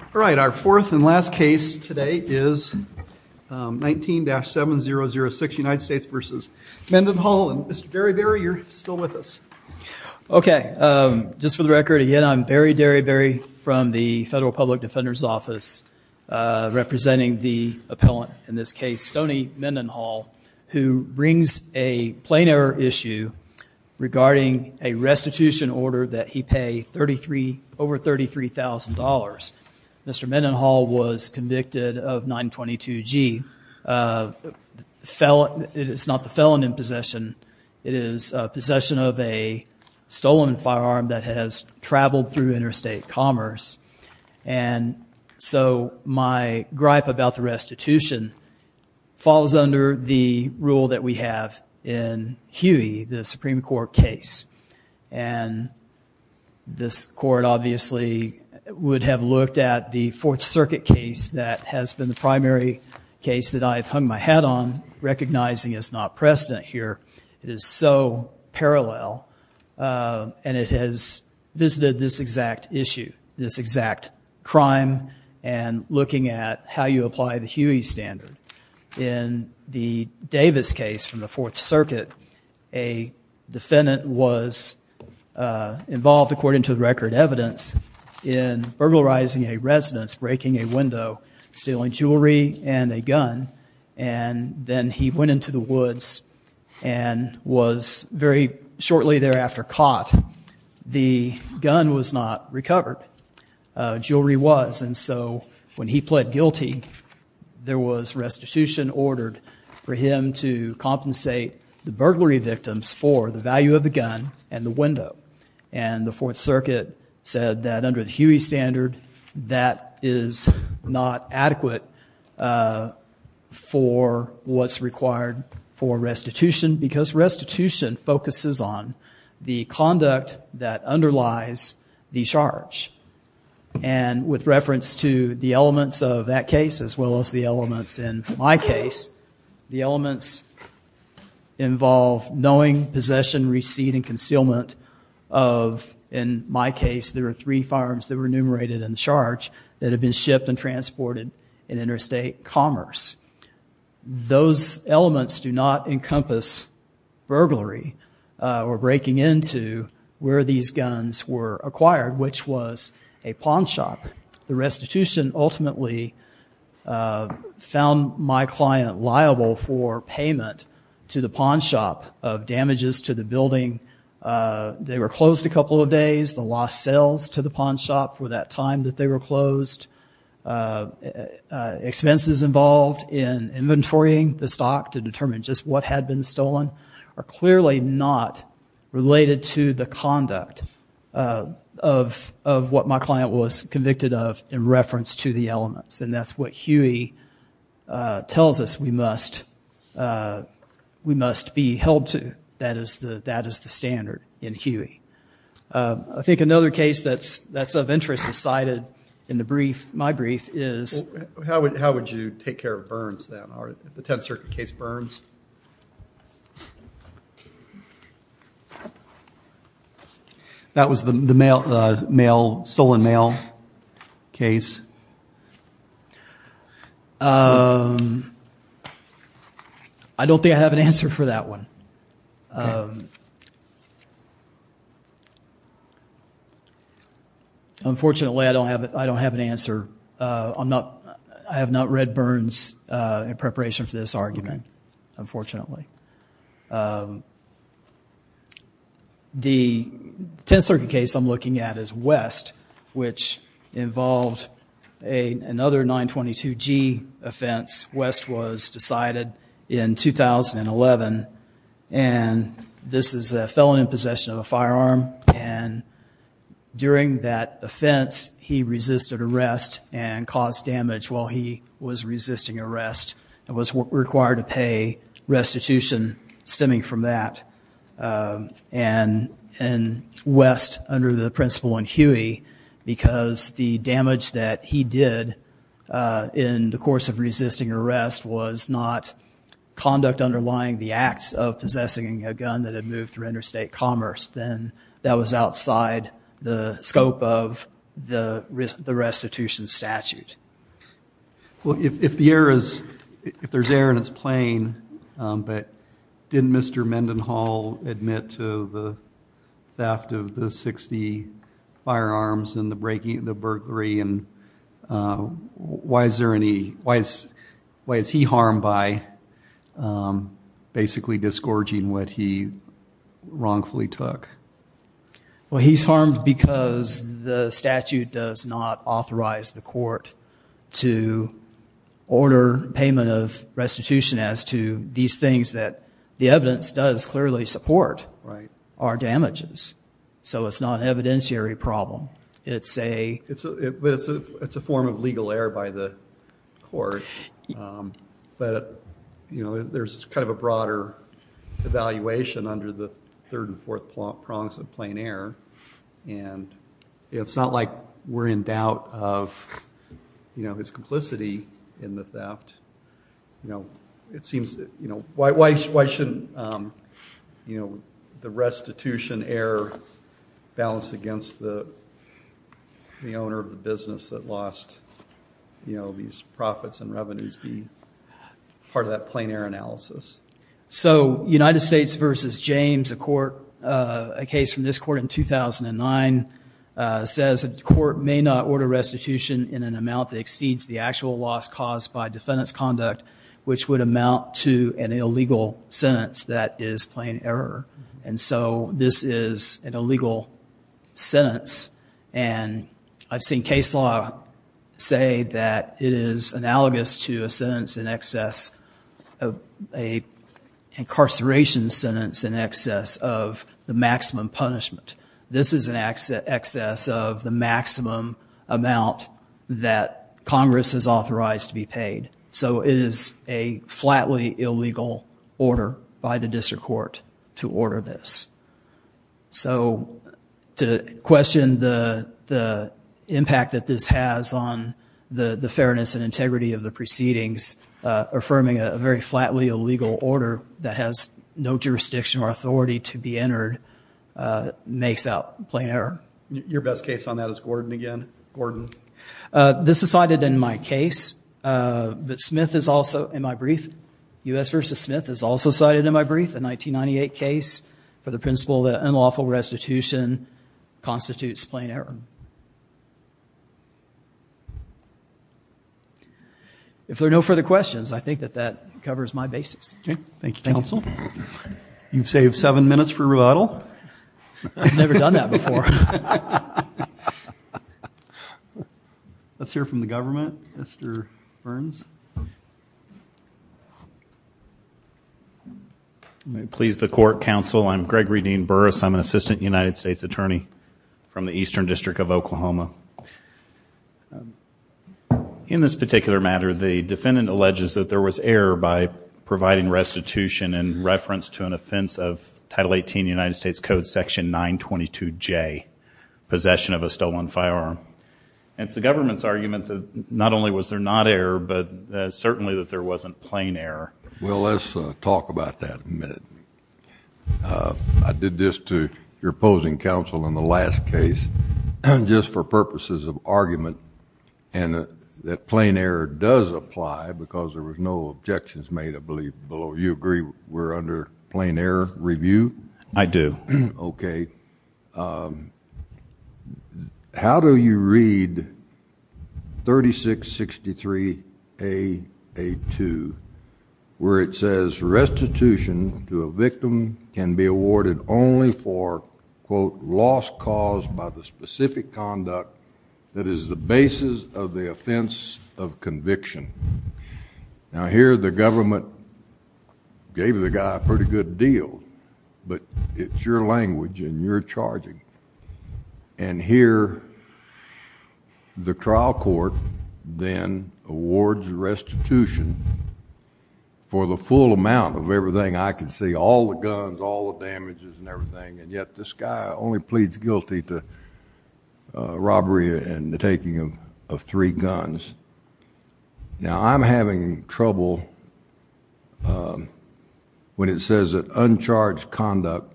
All right, our fourth and last case today is 19-7006 United States v. Mendenhall. Mr. Derryberry, you're still with us. Okay, just for the record again, I'm Barry Derryberry from the Federal Public Defender's Office representing the appellant in this case, Stoney Mendenhall, who brings a plain error issue regarding a restitution order that he paid over $33,000. Mr. Mendenhall was convicted of 922 G. It's not the felon in possession, it is possession of a stolen firearm that has traveled through interstate commerce, and so my gripe about the restitution falls under the rule that we have in Huey, the Supreme Court case, and this court obviously would have looked at the Fourth Circuit case that has been the primary case that I've hung my hat on, recognizing it's not precedent here. It is so parallel, and it has visited this exact issue, this exact crime, and looking at how you apply the Huey standard. In the Davis case from the defendant was involved, according to the record evidence, in burglarizing a residence, breaking a window, stealing jewelry and a gun, and then he went into the woods and was very shortly thereafter caught. The gun was not recovered. Jewelry was, and so when he pled guilty, there was restitution ordered for him to compensate the burglary victims for the value of the gun and the window, and the Fourth Circuit said that under the Huey standard, that is not adequate for what's required for restitution, because restitution focuses on the conduct that underlies the charge, and with reference to the elements of that case, as well as the elements in my case, the elements involve knowing possession, receipt, and concealment of, in my case, there are three firearms that were enumerated in charge that have been shipped and transported in interstate commerce. Those elements do not encompass burglary or breaking into where these found my client liable for payment to the pawn shop of damages to the building. They were closed a couple of days, the lost sales to the pawn shop for that time that they were closed. Expenses involved in inventorying the stock to determine just what had been stolen are clearly not related to the conduct of what my client was convicted of in reference to the elements, and that's what Huey tells us we must be held to, that is the standard in Huey. I think another case that's of interest is cited in the brief, my brief, is... How would you take care of Burns then, the Tenth Circuit case Burns? That was the mail, the mail, stolen mail case. I don't think I have an answer for that one. Unfortunately, I don't have it, I don't have an answer. I'm not, I have not read Burns in preparation for this argument, unfortunately. The Tenth Circuit case I'm looking at is West, which involved another 922 G offense. West was decided in 2011, and this is a felon in possession of a firearm, and during that was resisting arrest, and was required to pay restitution stemming from that. And West, under the principle in Huey, because the damage that he did in the course of resisting arrest was not conduct underlying the acts of possessing a gun that had moved through interstate commerce, then that was If the air is, if there's air and it's playing, but didn't Mr. Mendenhall admit to the theft of the 60 firearms and the breaking, the burglary, and why is there any, why is he harmed by basically disgorging what he wrongfully took? Well, he's harmed because the statute does not authorize the court to order payment of restitution as to these things that the evidence does clearly support, are damages. So it's not an evidentiary problem. It's a, it's a, it's a form of legal error by the court, but you know, there's kind of a broader evaluation under the third and fourth prongs of plain error, and it's not like we're in doubt of, you know, his complicity in the theft. You know, it seems that, you know, why, why, why shouldn't, you know, the restitution error balance against the, the owner of the business that lost, you know, these profits and So United States v. James, a court, a case from this court in 2009, says the court may not order restitution in an amount that exceeds the actual loss caused by defendant's conduct, which would amount to an illegal sentence that is plain error. And so this is an illegal sentence, and I've seen case law say that it is analogous to a sentence in excess of a incarceration sentence in excess of the maximum punishment. This is an access of the maximum amount that Congress has authorized to be paid. So it is a flatly illegal order by the district court to of the proceedings affirming a very flatly illegal order that has no jurisdiction or authority to be entered makes out plain error. Your best case on that is Gordon again. Gordon. This is cited in my case, but Smith is also in my brief. U.S. v. Smith is also cited in my brief, a 1998 case for the principle that unlawful restitution constitutes plain error. If there are no further questions, I think that that covers my basis. Okay. Thank you, counsel. You've saved seven minutes for rebuttal. I've never done that before. Let's hear from the government. Mr. Burns. Please the court, counsel. I'm Gregory Dean Burrus. I'm an assistant United States attorney from the Eastern District of Oklahoma. In this particular matter, the defendant alleges that there was error by providing restitution in reference to an offense of Title 18 United States Code Section 922J, possession of a stolen firearm. It's the government's argument that not only was there not error, but certainly that there wasn't plain error. Well, let's talk about that in a minute. I did this to your opposing counsel in the last case just for purposes of argument and that plain error does apply because there was no objections made, I believe, below. You agree we're under plain error review? I do. Okay. How do you read 3663A.A.2, where it says restitution to a victim can be awarded only for, quote, loss caused by the specific conduct that is the basis of the offense of conviction? Now, here the government gave the guy a pretty good deal, but it's your language and you're charging. Here, the trial court then awards restitution for the full amount of everything I can see, all the guns, all the damages and everything, and yet this guy only pleads guilty to robbery and the taking of three guns. Now, I'm having trouble when it says that uncharged conduct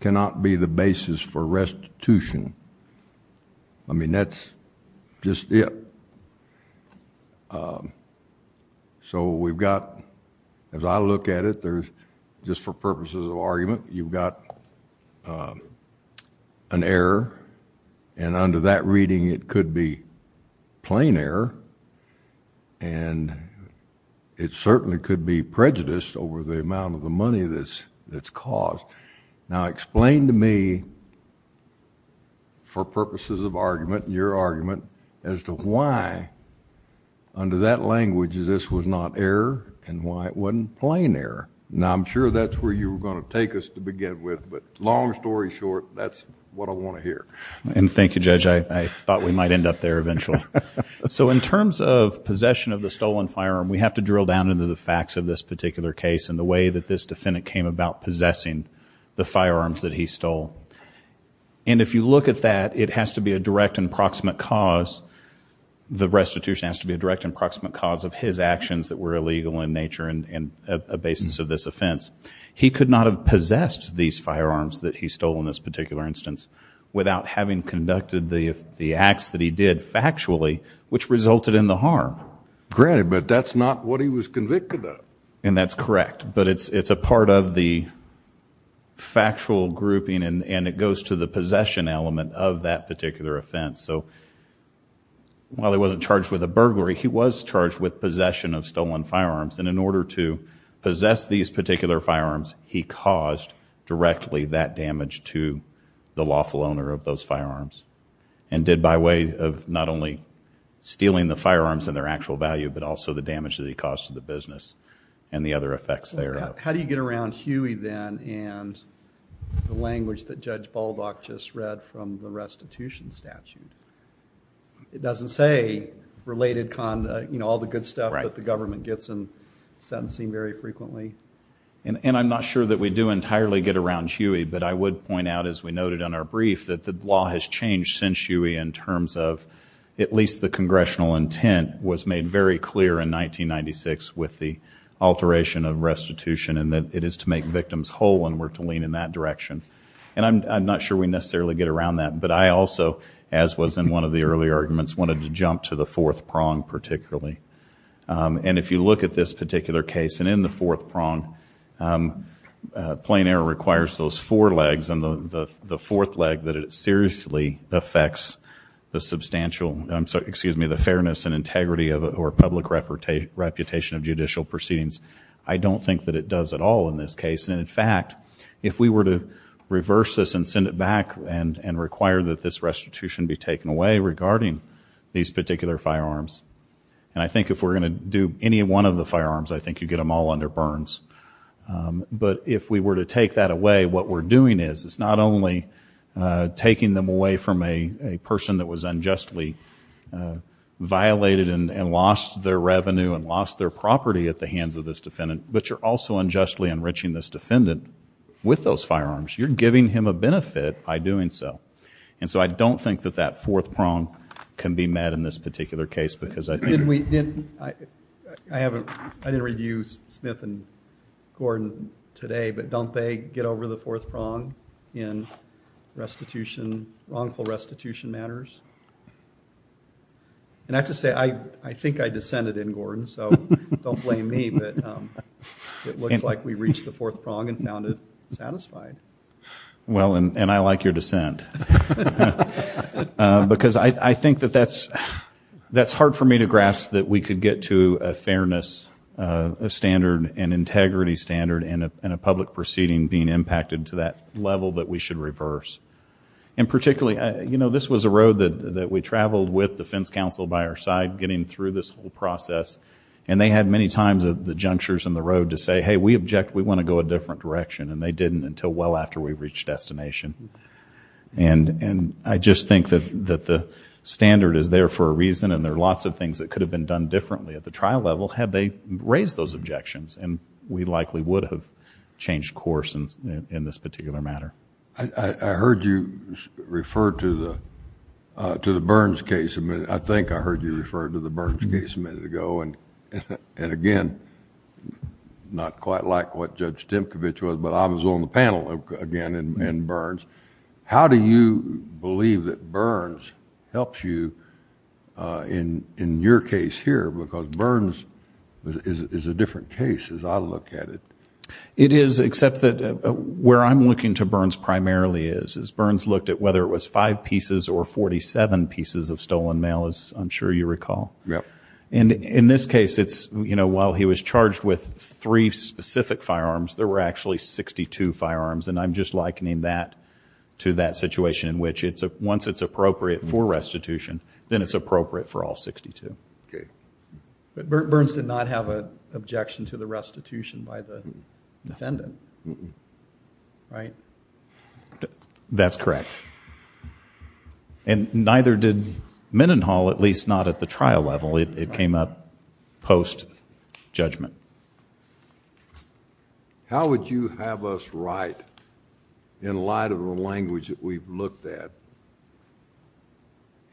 cannot be the basis for restitution. I mean, that's just it. So we've got, as I look at it, just for purposes of argument, you've got an error, and under that reading it could be plain error, and it certainly could be prejudiced over the amount of the money that's caused. Now, explain to me for purposes of argument, your argument, as to why under that language this was not error and why it wasn't plain error. Now, I'm sure that's where you were going to take us to begin with, but long story short, that's what I want to hear. And thank you, Judge. I thought we might end up there eventually. So in terms of possession of the stolen firearm, we have to drill down into the facts of this particular case and the way that this defendant came about possessing the firearms that he stole. And if you look at that, it has to be a direct and proximate cause. The restitution has to be a direct and proximate cause of his actions that were illegal in nature and a basis of this offense. He could not have possessed these firearms that he stole in this particular instance without having conducted the acts that he did factually, which resulted in the harm. Granted, but that's not what he was convicted of. And that's correct, but it's a part of the factual grouping, and it goes to the possession element of that particular offense. So while he wasn't charged with a burglary, he was charged with possession of stolen firearms, and in order to possess these particular firearms, he caused directly that damage to the lawful owner of those firearms and did by way of not only stealing the firearms and their actual value but also the damage that he caused to the business and the other effects thereof. Well, how do you get around Huey then and the language that Judge Baldock just read from the restitution statute? It doesn't say related conduct, you know, all the good stuff that the government gets in sentencing very frequently. And I'm not sure that we do entirely get around Huey, but I would point out, as we noted in our brief, that the law has changed since Huey in terms of at least the congressional intent was made very clear in 1996 with the alteration of restitution and that it is to make victims whole and we're to lean in that direction. And I'm not sure we necessarily get around that, but I also, as was in one of the earlier arguments, wanted to jump to the fourth prong particularly. And if you look at this particular case, and in the fourth prong plain error requires those four legs and the fourth leg that it seriously affects the substantial fairness and integrity or public reputation of judicial proceedings. I don't think that it does at all in this case. And in fact, if we were to reverse this and send it back and require that this restitution be taken away regarding these particular firearms, and I think if we're going to do any one of the firearms, I think you get them all under burns. But if we were to take that away, what we're doing is, it's not only taking them away from a person that was unjustly violated and lost their revenue and lost their property at the hands of this defendant, but you're also unjustly enriching this defendant with those firearms. You're giving him a benefit by doing so. And so I don't think that that fourth prong can be met in this particular case. I didn't review Smith and Gordon today, but don't they get over the fourth prong in wrongful restitution matters? And I have to say, I think I descended in Gordon, so don't blame me, but it looks like we reached the fourth prong and found it satisfied. Well, and I like your dissent. Because I think that that's hard for me to grasp, that we could get to a fairness standard and integrity standard and a public proceeding being impacted to that level that we should reverse. And particularly, you know, this was a road that we traveled with defense counsel by our side, getting through this whole process, and they had many times at the junctures in the road to say, hey, we object, we want to go a different direction, and they didn't until well after we reached destination. And I just think that the standard is there for a reason and there are lots of things that could have been done differently at the trial level had they raised those objections, and we likely would have changed course in this particular matter. I heard you refer to the Burns case a minute ago. I think I heard you refer to the Burns case a minute ago, and again, not quite like what Judge Stimkovich was, but I was on the panel again in Burns. How do you believe that Burns helps you in your case here? Because Burns is a different case as I look at it. It is, except that where I'm looking to Burns primarily is, Burns looked at whether it was five pieces or 47 pieces of stolen mail, as I'm sure you recall. And in this case, while he was charged with three specific firearms, there were actually 62 firearms, and I'm just likening that to that situation in which once it's appropriate for restitution, then it's appropriate for all 62. But Burns did not have an objection to the restitution by the defendant, right? That's correct. And neither did Mendenhall, at least not at the trial level. It came up post-judgment. How would you have us write, in light of the language that we've looked at,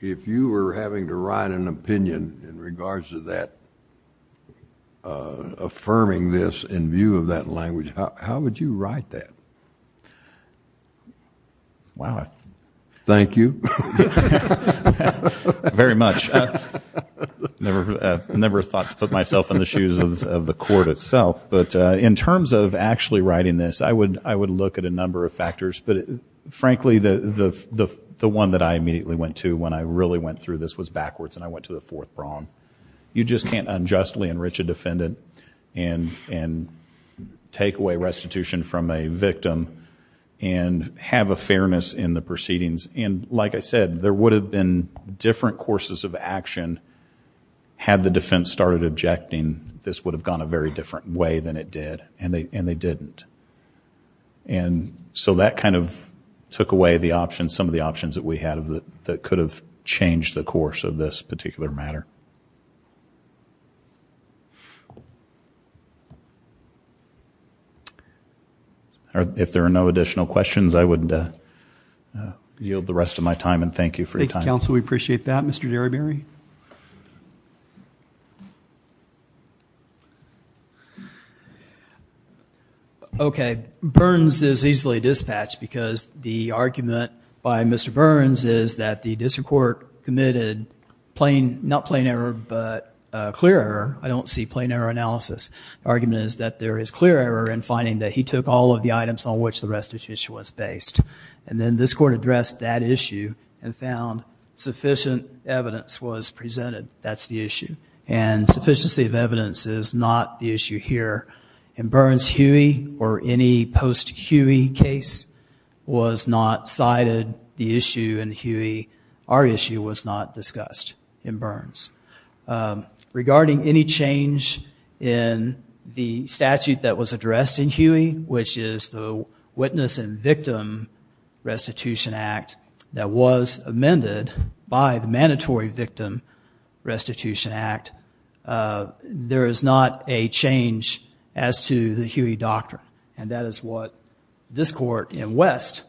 if you were having to write an opinion in regards to that, affirming this in view of that language, how would you write that? Wow. Thank you. Very much. Never thought to put myself in the shoes of the court itself. But in terms of actually writing this, I would look at a number of factors. But frankly, the one that I immediately went to when I really went through this was backwards, and I went to the fourth prong. You just can't unjustly enrich a defendant and take away restitution from a victim and have a fairness in the proceedings. And like I said, there would have been different courses of action had the defense started objecting. This would have gone a very different way than it did, and they didn't. And so that kind of took away some of the options that we had that could have changed the course of this particular matter. If there are no additional questions, I would yield the rest of my time, and thank you for your time. Thank you, counsel. We appreciate that. Mr. Derryberry? Mr. Derryberry? Okay, Burns is easily dispatched because the argument by Mr. Burns is that the district court committed not plain error but clear error. I don't see plain error analysis. The argument is that there is clear error in finding that he took all of the items on which the restitution was based. And then this court addressed that issue and found sufficient evidence was presented. That's the issue. And sufficiency of evidence is not the issue here. In Burns, Huey or any post-Huey case was not cited the issue in Huey. Our issue was not discussed in Burns. Regarding any change in the statute that was addressed in Huey, which is the Witness and Victim Restitution Act that was amended by the Mandatory Victim Restitution Act, there is not a change as to the Huey doctrine. And that is what this court in West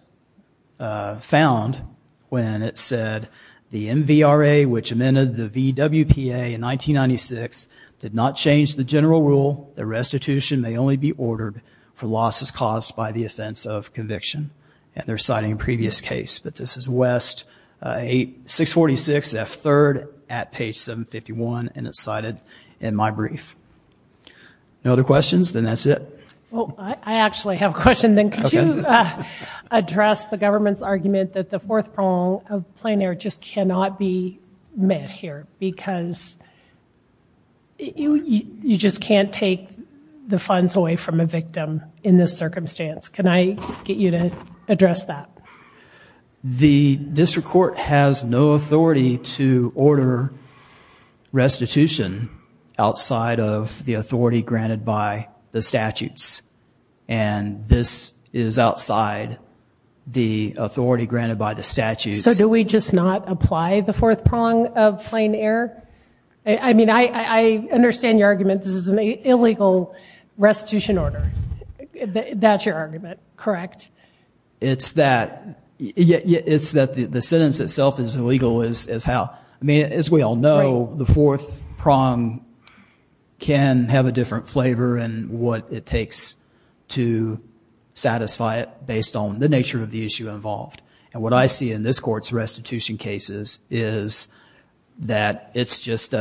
found when it said the MVRA, which amended the VWPA in 1996, did not change the general rule that restitution may only be ordered for losses caused by the offense of conviction. And they're citing a previous case. But this is West 646 F. 3rd at page 751, and it's cited in my brief. No other questions? Then that's it. Well, I actually have a question then. Could you address the government's argument that the fourth prong of plain error just cannot be met here because you just can't take the funds away from a victim in this circumstance? Can I get you to address that? The district court has no authority to order restitution outside of the authority granted by the statutes. And this is outside the authority granted by the statutes. So do we just not apply the fourth prong of plain error? I mean, I understand your argument. This is an illegal restitution order. That's your argument, correct? It's that the sentence itself is illegal is how. I mean, as we all know, the fourth prong can have a different flavor in what it takes to satisfy it based on the nature of the issue involved. And what I see in this court's restitution cases is that it's just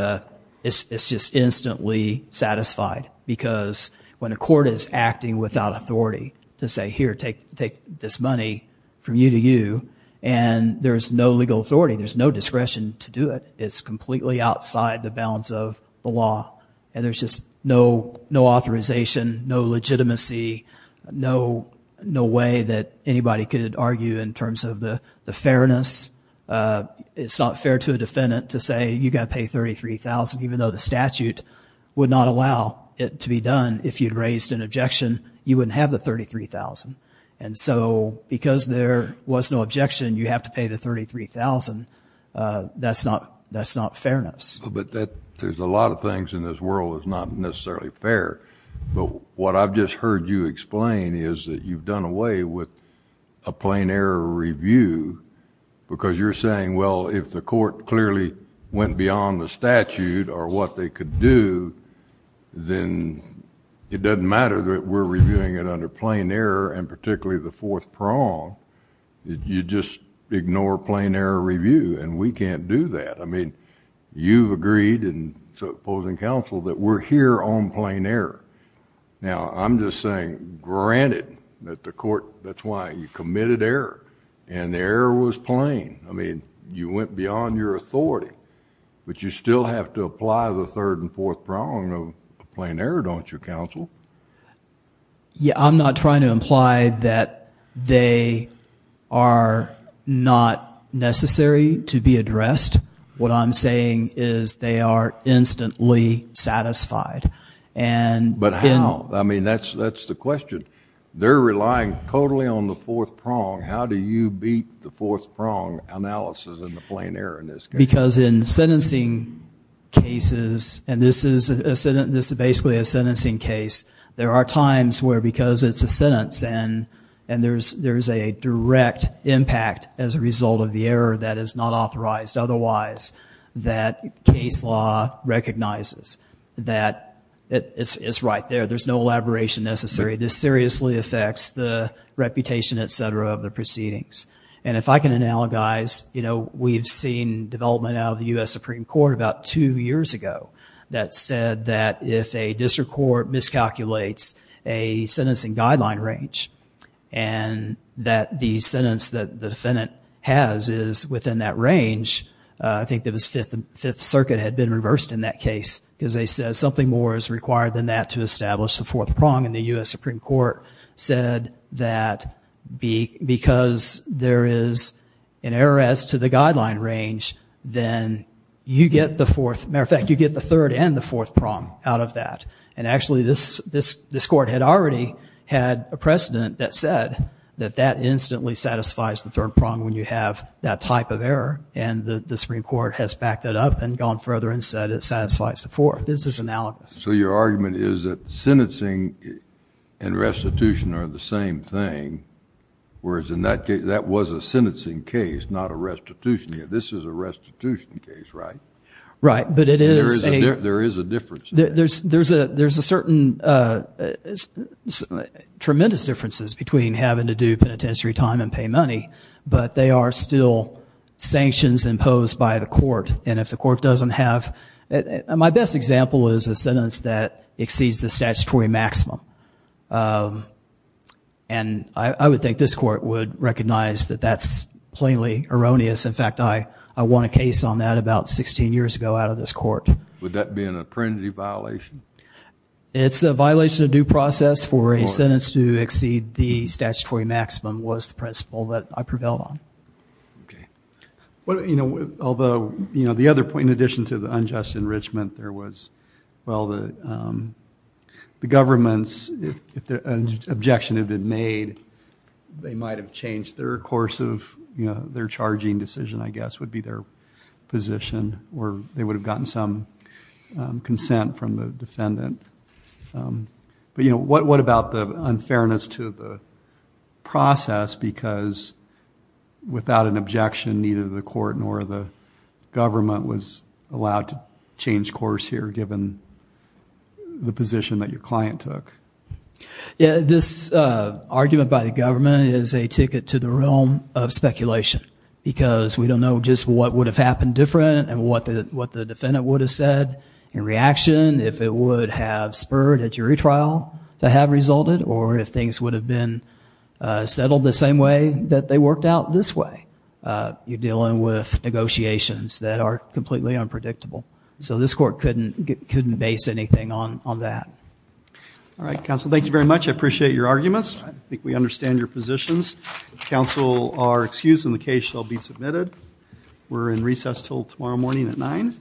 instantly satisfied because when a court is acting without authority to say, here, take this money from you to you, and there's no legal authority, there's no discretion to do it, it's completely outside the bounds of the law, and there's just no authorization, no legitimacy, no way that anybody could argue in terms of the fairness. It's not fair to a defendant to say, you've got to pay $33,000, even though the statute would not allow it to be done. If you'd raised an objection, you wouldn't have the $33,000. And so because there was no objection, you have to pay the $33,000. That's not fairness. But there's a lot of things in this world that's not necessarily fair. But what I've just heard you explain is that you've done away with a plain error review because you're saying, well, if the court clearly went beyond the statute or what they could do, then it doesn't matter that we're reviewing it under plain error and particularly the fourth prong. You just ignore plain error review, and we can't do that. I mean, you've agreed in opposing counsel that we're here on plain error. Now, I'm just saying, granted that the court, that's why you committed error, and the error was plain. I mean, you went beyond your authority, but you still have to apply the third and fourth prong of plain error, don't you, counsel? Yeah, I'm not trying to imply that they are not necessary to be addressed. What I'm saying is they are instantly satisfied. But how? I mean, that's the question. They're relying totally on the fourth prong. How do you beat the fourth prong analysis in the plain error in this case? Because in sentencing cases, and this is basically a sentencing case, there are times where because it's a sentence and there's a direct impact as a result of the error that is not authorized otherwise, that case law recognizes that it's right there. There's no elaboration necessary. This seriously affects the reputation, et cetera, of the proceedings. And if I can analogize, you know, we've seen development out of the U.S. Supreme Court about two years ago that said that if a district court miscalculates a sentencing guideline range and that the sentence that the defendant has is within that range, I think the Fifth Circuit had been reversed in that case because they said something more is required than that to establish the fourth prong. And the U.S. Supreme Court said that because there is an error as to the guideline range, then you get the fourth. Matter of fact, you get the third and the fourth prong out of that. And actually this court had already had a precedent that said that that instantly satisfies the third prong when you have that type of error. And the Supreme Court has backed that up and gone further and said it satisfies the fourth. This is analogous. So your argument is that sentencing and restitution are the same thing, whereas in that case that was a sentencing case, not a restitution case. This is a restitution case, right? Right. There is a difference there. There's a certain tremendous differences between having to do penitentiary time and pay money, but they are still sanctions imposed by the court. My best example is a sentence that exceeds the statutory maximum. And I would think this court would recognize that that's plainly erroneous. In fact, I won a case on that about 16 years ago out of this court. Would that be an apprehensive violation? It's a violation of due process for a sentence to exceed the statutory maximum was the principle that I prevailed on. Okay. Although, you know, the other point in addition to the unjust enrichment there was, well, the government's objection had been made, they might have changed their course of their charging decision, I guess, would be their position or they would have gotten some consent from the defendant. But, you know, what about the unfairness to the process because without an objection, neither the court nor the government was allowed to change course here given the position that your client took? Yeah, this argument by the government is a ticket to the realm of speculation because we don't know just what would have happened different and what the defendant would have said in reaction. If it would have spurred a jury trial to have resulted or if things would have been settled the same way that they worked out this way. You're dealing with negotiations that are completely unpredictable. So this court couldn't base anything on that. All right, counsel. Thank you very much. I appreciate your arguments. I think we understand your positions. Counsel are excused and the case shall be submitted. We're in recess until tomorrow morning at 9.